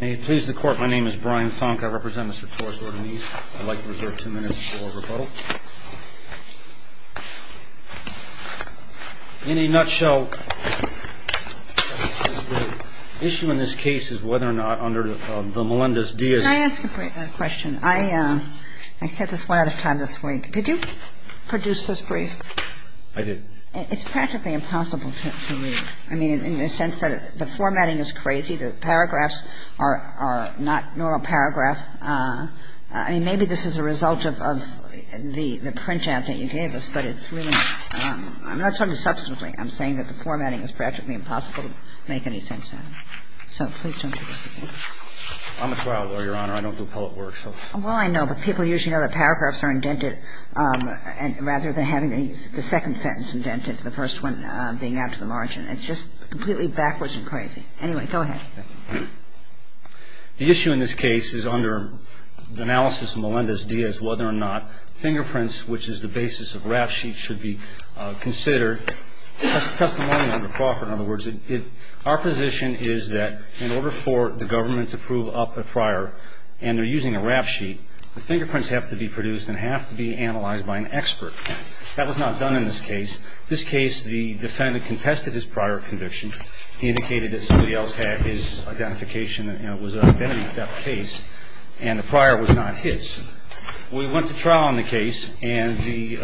May it please the Court, my name is Brian Funk. I represent Mr. Torres-Ordonez. I'd like to reserve two minutes for rebuttal. In a nutshell, the issue in this case is whether or not under the Melendez-Diaz... Can I ask a question? I set this one out of time this week. Did you produce this brief? I did. It's practically impossible to read. I mean, in the sense that the formatting is crazy. The paragraphs are not normal paragraph. I mean, maybe this is a result of the printout that you gave us, but it's really I'm not talking substantively. I'm saying that the formatting is practically impossible to make any sense out of. So please don't take us to court. I'm a trial lawyer, Your Honor. I don't do poet work. Well, I know, but people usually know that paragraphs are indented rather than having the second sentence indented, the first one being out to the margin. It's just completely backwards and crazy. Anyway, go ahead. The issue in this case is under the analysis of Melendez-Diaz whether or not fingerprints, which is the basis of RAF sheets, should be considered. Testimony under Crawford, in other words, our position is that in order for the government to prove up a prior and they're using a RAF sheet, the fingerprints have to be produced and have to be analyzed by an expert. That was not done in this case. This case, the defendant contested his prior conviction. He indicated that somebody else had his identification and it was an identity theft case, and the prior was not his. We went to trial on the case, and the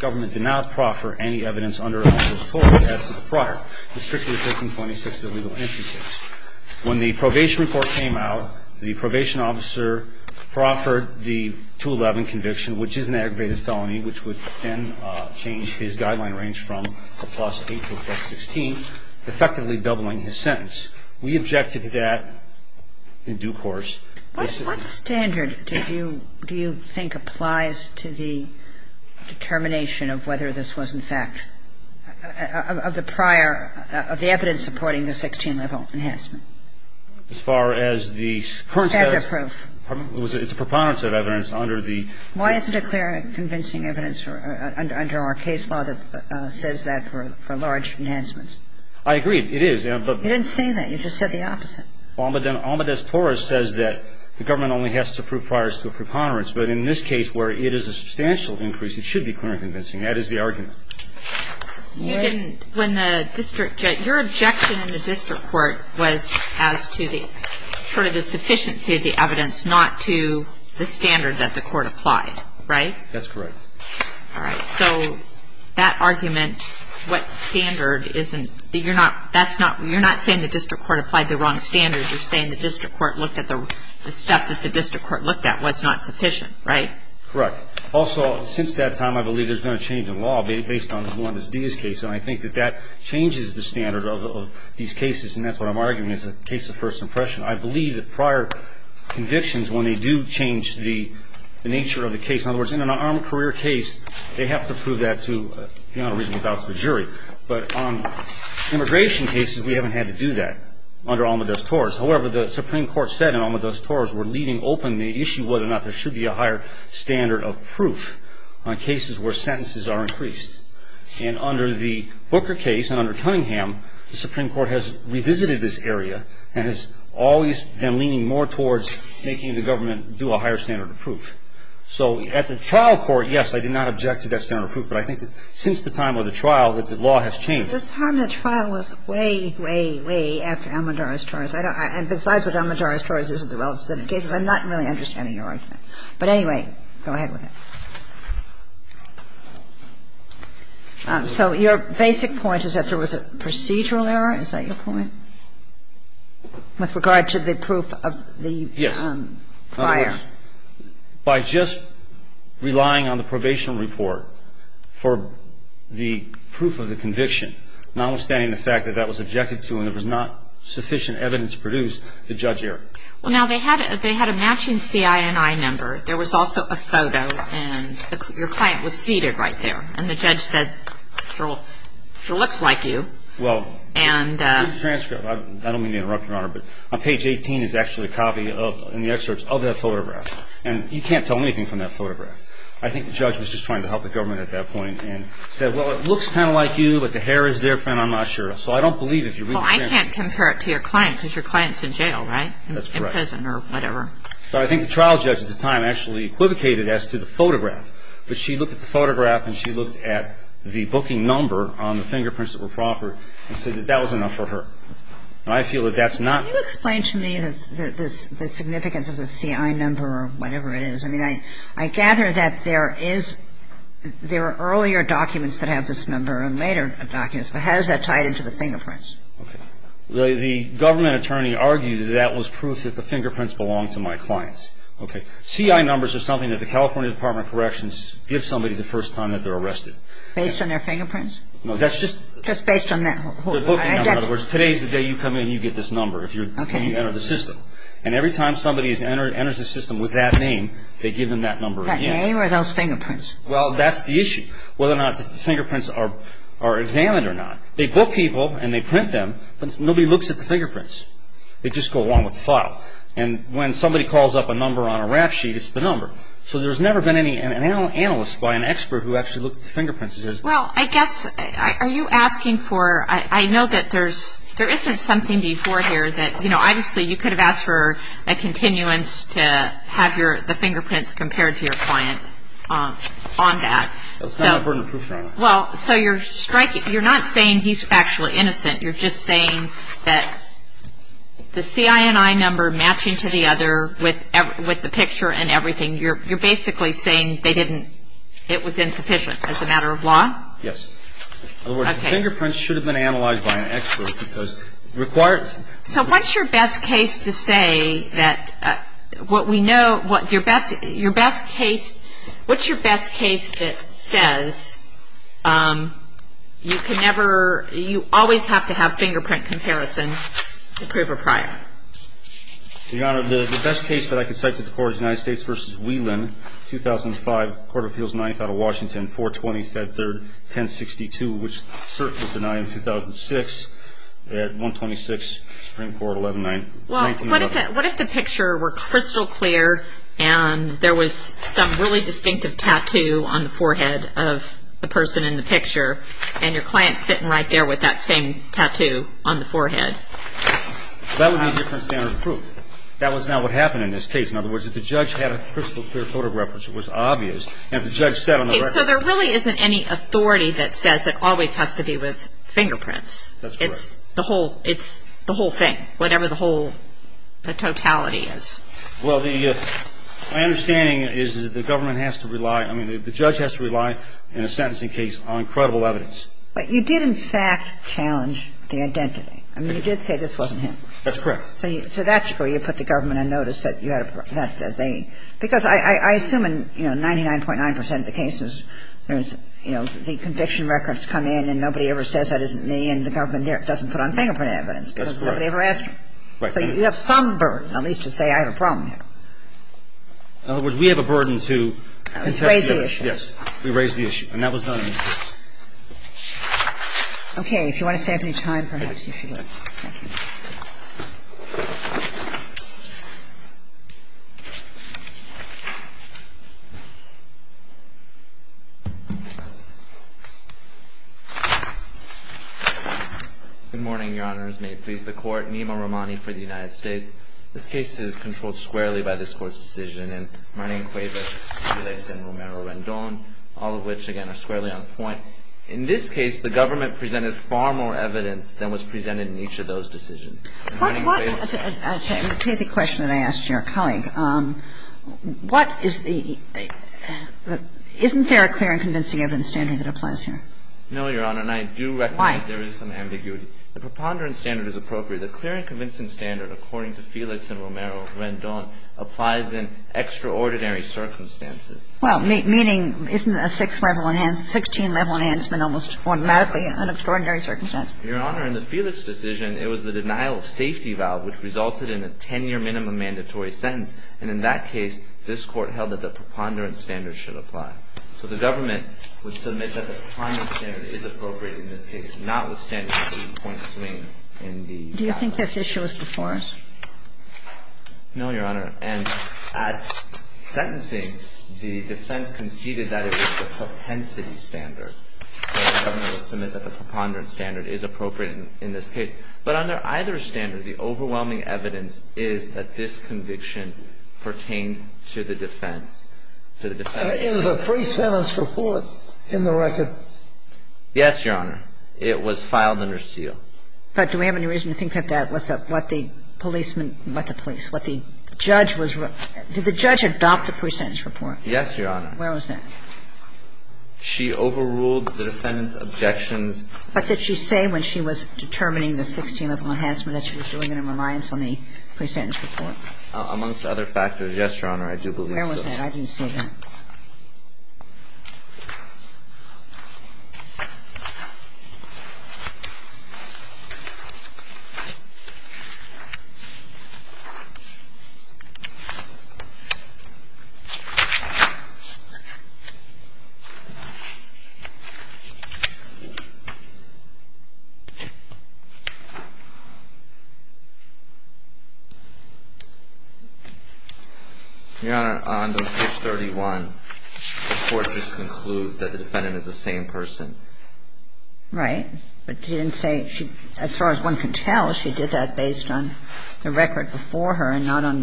government did not proffer any evidence under analysis at all as to the prior, which is an aggravated felony, which would then change his guideline range from a plus 8 to a plus 16, effectively doubling his sentence. We objected to that in due course. What standard do you think applies to the determination of whether this was, in fact, of the prior? The evidence supporting the 16-level enhancement. As far as the current status? It's a preponderance of evidence under the ---- Why isn't it clear and convincing evidence under our case law that says that for large enhancements? I agree. It is, but ---- You didn't say that. You just said the opposite. Almedez-Torres says that the government only has to prove prior to a preponderance, but in this case where it is a substantial increase, it should be clear and convincing. That is the argument. You didn't ---- When the district judge ---- Your objection in the district court was as to the sufficiency of the evidence, not to the standard that the court applied, right? That's correct. All right. So that argument, what standard isn't ---- You're not saying the district court applied the wrong standard. You're saying the district court looked at the stuff that the district court looked at was not sufficient, right? Correct. Also, since that time, I believe there's been a change in law based on the Melendez-Diaz case, and I think that that changes the standard of these cases, and that's what I'm arguing is a case of first impression. I believe that prior convictions, when they do change the nature of the case, in other words, in an unarmed career case, they have to prove that to be on a reasonable doubt to the jury. But on immigration cases, we haven't had to do that under Almedez-Torres. However, the Supreme Court said in Almedez-Torres, we're leaving open the issue whether or not there should be a higher standard of proof on cases where sentences are increased. And under the Booker case and under Cunningham, the Supreme Court has revisited this area and has always been leaning more towards making the government do a higher standard of proof. So at the trial court, yes, I did not object to that standard of proof, but I think that since the time of the trial that the law has changed. The time of the trial was way, way, way after Almedez-Torres. And besides what Almedez-Torres is in the relative cases, I'm not really understanding your argument. But anyway, go ahead with it. So your basic point is that there was a procedural error. Is that your point with regard to the proof of the prior? Yes. By just relying on the probation report for the proof of the conviction, notwithstanding the fact that that was objected to and there was not sufficient evidence to produce the judge error. Well, now, they had a matching CINI number. There was also a photo, and your client was seated right there. And the judge said, she looks like you. Well, in the transcript, I don't mean to interrupt, Your Honor, but on page 18 is actually a copy in the excerpts of that photograph. And you can't tell anything from that photograph. I think the judge was just trying to help the government at that point and said, Well, it looks kind of like you, but the hair is different. I'm not sure. So I don't believe if you're really saying it. Well, I can't compare it to your client because your client's in jail, right? That's correct. In prison or whatever. So I think the trial judge at the time actually equivocated as to the photograph. But she looked at the photograph and she looked at the booking number on the fingerprints that were proffered and said that that was enough for her. And I feel that that's not Can you explain to me the significance of the CINI number or whatever it is? I mean, I gather that there are earlier documents that have this number and later documents. But how is that tied into the fingerprints? Okay. The government attorney argued that that was proof that the fingerprints belonged to my clients. Okay. CI numbers are something that the California Department of Corrections gives somebody the first time that they're arrested. Based on their fingerprints? No, that's just Just based on that. The booking number. In other words, today's the day you come in and you get this number if you enter the system. Okay. And every time somebody enters the system with that name, they give them that number again. That name or those fingerprints? Well, that's the issue, whether or not the fingerprints are examined or not. They book people and they print them, but nobody looks at the fingerprints. They just go along with the file. And when somebody calls up a number on a rap sheet, it's the number. So there's never been any analyst by an expert who actually looked at the fingerprints and says Well, I guess, are you asking for I know that there isn't something before here that, you know, a continuance to have the fingerprints compared to your client on that. That's not a burden of proof for anyone. Well, so you're striking, you're not saying he's factually innocent. You're just saying that the CINI number matching to the other with the picture and everything, you're basically saying they didn't, it was insufficient as a matter of law? Yes. Okay. In other words, the fingerprints should have been analyzed by an expert because required So what's your best case to say that what we know, your best case, what's your best case that says you can never, you always have to have fingerprint comparison to prove a prior? Your Honor, the best case that I can cite to the court is United States v. Whelan, 2005, Court of Appeals, 9th out of Washington, 420, Fed Third, 1062, which certainly was denied in 2006 at 126, Supreme Court, 11-9. Well, what if the picture were crystal clear and there was some really distinctive tattoo on the forehead of the person in the picture and your client's sitting right there with that same tattoo on the forehead? That would be a different standard of proof. That was not what happened in this case. In other words, if the judge had a crystal clear photograph, which was obvious, and if the judge said on the record Okay. So there really isn't any authority that says it always has to be with fingerprints. That's correct. It's the whole thing, whatever the whole totality is. Well, my understanding is that the government has to rely, I mean, the judge has to rely in a sentencing case on credible evidence. But you did, in fact, challenge the identity. I mean, you did say this wasn't him. That's correct. So that's where you put the government on notice that you had a, that they, because I assume in, you know, 99.9 percent of the cases, there's, you know, the conviction records come in and nobody ever says that isn't me and the government doesn't put on fingerprint evidence because nobody ever asked. That's correct. So you have some burden, at least to say I have a problem here. In other words, we have a burden to Raise the issue. Yes. We raise the issue. And that was done in this case. Okay. If you want to save me time, perhaps you should. Thank you. Thank you. Good morning, Your Honors. May it please the Court. Nima Rahmani for the United States. This case is controlled squarely by this Court's decision. And my name, Quavo, relates to Romero Rendon, all of which, again, are squarely on point. In this case, the government presented far more evidence than was presented in each of those decisions. Let me take the question that I asked your colleague. What is the, isn't there a clear and convincing evidence standard that applies here? No, Your Honor. And I do recognize there is some ambiguity. Why? The preponderance standard is appropriate. The clear and convincing standard, according to Felix and Romero Rendon, applies in extraordinary circumstances. Well, meaning, isn't a 6th level enhancement, 16th level enhancement almost automatically in extraordinary circumstances? Your Honor, in the Felix decision, it was the denial of safety valve which resulted in a 10-year minimum mandatory sentence. And in that case, this Court held that the preponderance standard should apply. So the government would submit that the priming standard is appropriate in this case, notwithstanding the three-point swing in the value. Do you think this issue is before us? No, Your Honor. And at sentencing, the defense conceded that it was the propensity standard. And the government would submit that the preponderance standard is appropriate in this case. But under either standard, the overwhelming evidence is that this conviction pertained to the defense, to the defense. That is a pre-sentence report in the record. Yes, Your Honor. It was filed under seal. But do we have any reason to think that that was what the policeman, what the police, what the judge was ---- did the judge adopt the pre-sentence report? Yes, Your Honor. Where was that? She overruled the defendant's objections. But did she say when she was determining the 16th enhancement that she was doing it in reliance on the pre-sentence report? Amongst other factors, yes, Your Honor, I do believe so. Where was that? I didn't see that. Your Honor, on to page 31. The court just concludes that the defendant is the same person. Right. But she didn't say ---- as far as one can tell, she did that based on the record before her and not on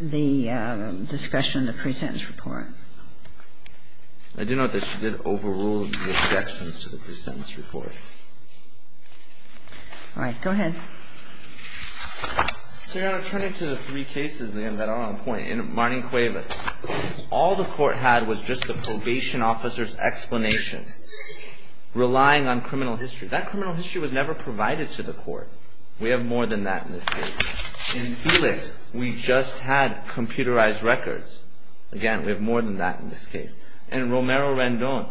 the discussion of the pre-sentence report. I do note that she did overrule the objections to the pre-sentence report. All right. Go ahead. So, Your Honor, turning to the three cases that are on point, in Marning-Cuevas, all the court had was just the probation officer's explanation, relying on criminal history. That criminal history was never provided to the court. We have more than that in this case. In Felix, we just had computerized records. Again, we have more than that in this case. And in Romero-Randon,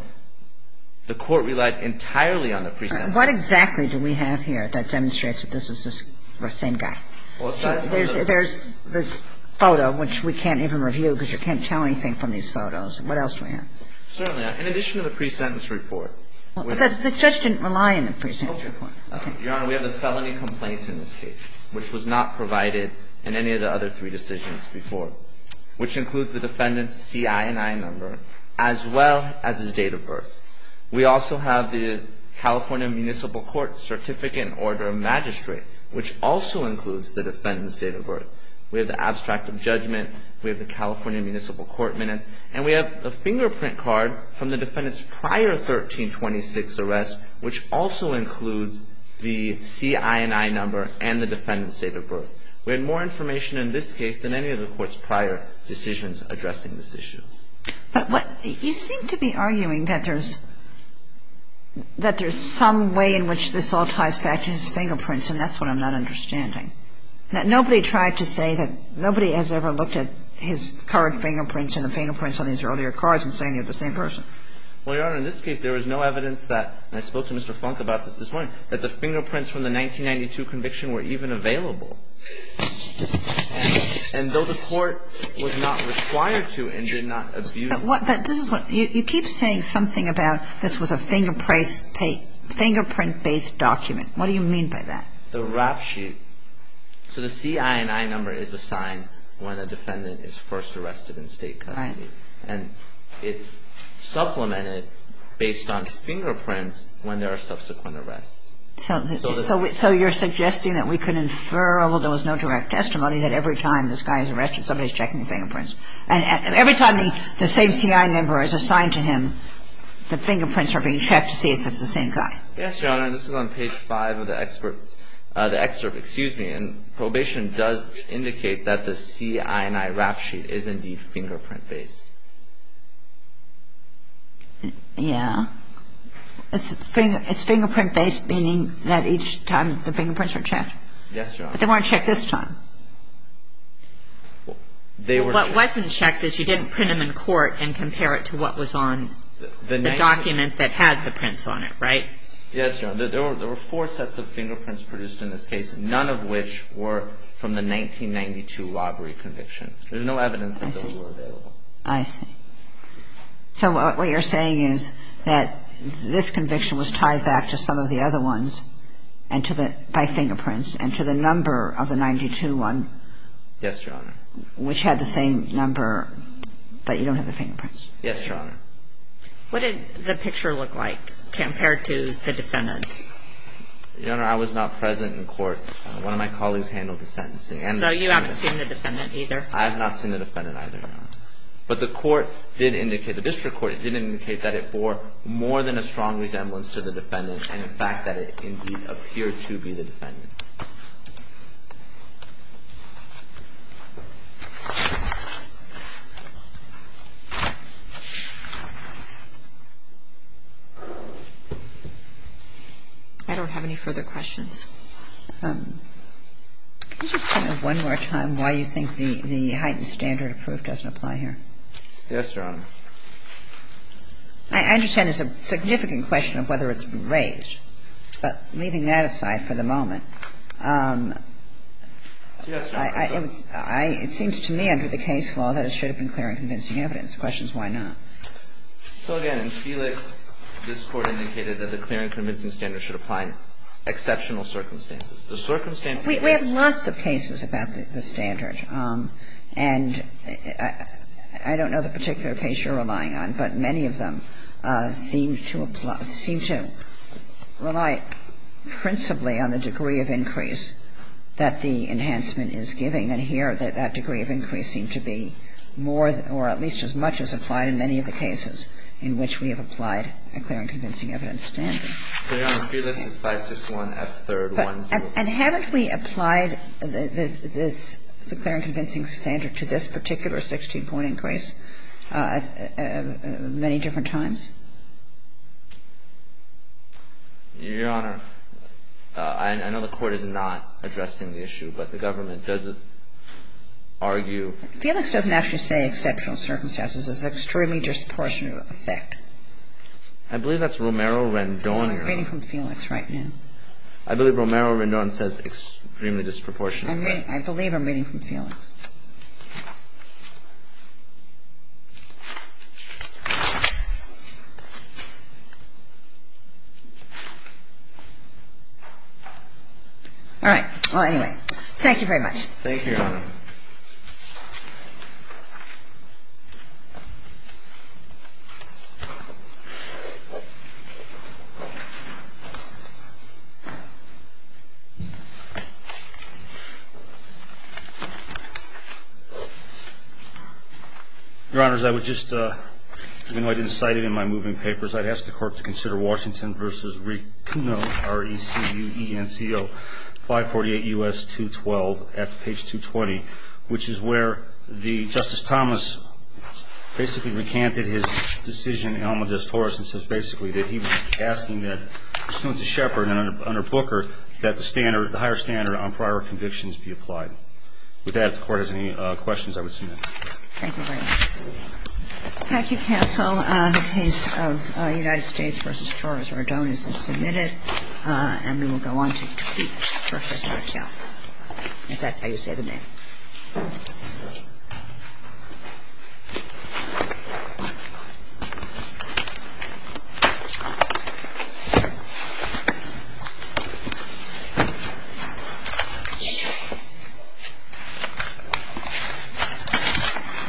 the court relied entirely on the pre-sentence report. What exactly do we have here that demonstrates that this is the same guy? There's this photo, which we can't even review because you can't tell anything from these photos. What else do we have? Certainly. In addition to the pre-sentence report. The judge didn't rely on the pre-sentence report. Your Honor, we have the felony complaints in this case, which was not provided in any of the other three decisions before, which include the defendant's CINI number as well as his date of birth. We also have the California Municipal Court Certificate in Order of Magistrate, which also includes the defendant's date of birth. We have the abstract of judgment. We have the California Municipal Court Minutes. And we have a fingerprint card from the defendant's prior 1326 arrest, which also includes the CINI number and the defendant's date of birth. We have more information in this case than any of the court's prior decisions addressing this issue. But what you seem to be arguing that there's some way in which this all ties back to his fingerprints, and that's what I'm not understanding. That nobody tried to say that nobody has ever looked at his current fingerprints and the fingerprints on these earlier cards and saying they're the same person. Well, Your Honor, in this case there was no evidence that, and I spoke to Mr. Funk about this this morning, that the fingerprints from the 1992 conviction were even available. And though the court was not required to and did not abuse this. But this is what you keep saying something about this was a fingerprint-based document. What do you mean by that? The rap sheet. So the CINI number is a sign when a defendant is first arrested in state custody. Right. And it's supplemented based on fingerprints when there are subsequent arrests. So you're suggesting that we could infer, although there was no direct testimony, that every time this guy is arrested somebody is checking the fingerprints. And every time the same CINI number is assigned to him, the fingerprints are being checked to see if it's the same guy. Yes, Your Honor. And this is on page 5 of the excerpt. And probation does indicate that the CINI rap sheet is indeed fingerprint-based. Yeah. It's fingerprint-based, meaning that each time the fingerprints are checked. Yes, Your Honor. But they weren't checked this time. They were checked. What wasn't checked is you didn't print them in court and compare it to what was on the document that had the prints on it, right? Yes, Your Honor. There were four sets of fingerprints produced in this case, none of which were from the 1992 robbery conviction. There's no evidence that those were available. I see. So what you're saying is that this conviction was tied back to some of the other ones by fingerprints and to the number of the 1992 one. Yes, Your Honor. Which had the same number, but you don't have the fingerprints. Yes, Your Honor. What did the picture look like compared to the defendant? Your Honor, I was not present in court. One of my colleagues handled the sentencing. So you haven't seen the defendant either? I have not seen the defendant either, Your Honor. But the court did indicate, the district court did indicate that it bore more than a strong resemblance to the defendant and, in fact, that it indeed appeared to be the defendant. I don't have any further questions. Can you just tell me one more time why you think the heightened standard of proof doesn't apply here? Yes, Your Honor. I understand it's a significant question of whether it's been raised. But leaving that aside for the moment, it seems to me under the case law that it should have been clear and convincing evidence. The question is why not? So, again, in Felix, this court indicated that the clear and convincing standard should apply in exceptional circumstances. The circumstances may be different. We have lots of cases about the standard. And I don't know the particular case you're relying on, but many of them seem to apply – seem to rely principally on the degree of increase that the enhancement is giving. And here, that degree of increase seemed to be more or at least as much as applied in many of the cases in which we have applied a clear and convincing evidence standard. Fair enough. Felix is 561F3-104. And haven't we applied this clear and convincing standard to this particular 16-point increase many different times? Your Honor, I know the Court is not addressing the issue, but the government doesn't argue. Felix doesn't actually say exceptional circumstances. It's an extremely disproportionate effect. I believe that's Romero-Rendon. Oh, you're reading from Felix right now. I believe Romero-Rendon says extremely disproportionate. I believe I'm reading from Felix. All right. Well, anyway, thank you very much. Thank you, Your Honor. Your Honors, I would just, even though I didn't cite it in my moving papers, I'd ask the Court to consider Washington v. Riccuno, R-E-C-U-E-N-C-O, 548 U.S. 212, at page 220, which is where Justice Thomas basically recanted his decision in the alma justoris and says basically that he was asking that, pursuant to Shepard and under Booker, that the standard, the higher standard on prior convictions be applied. With that, if the Court has any questions, I would submit. Thank you very much. Thank you, counsel. The case of United States v. Torres-Rodone is submitted. And we will go on to Tweet for Justice McKeown, if that's how you say the name.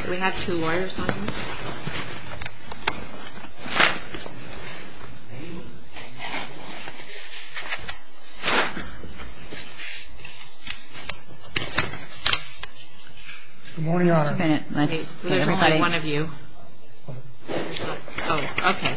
Do we have two lawyers on this? Good morning, Your Honor. Just a minute. There's only one of you. Okay.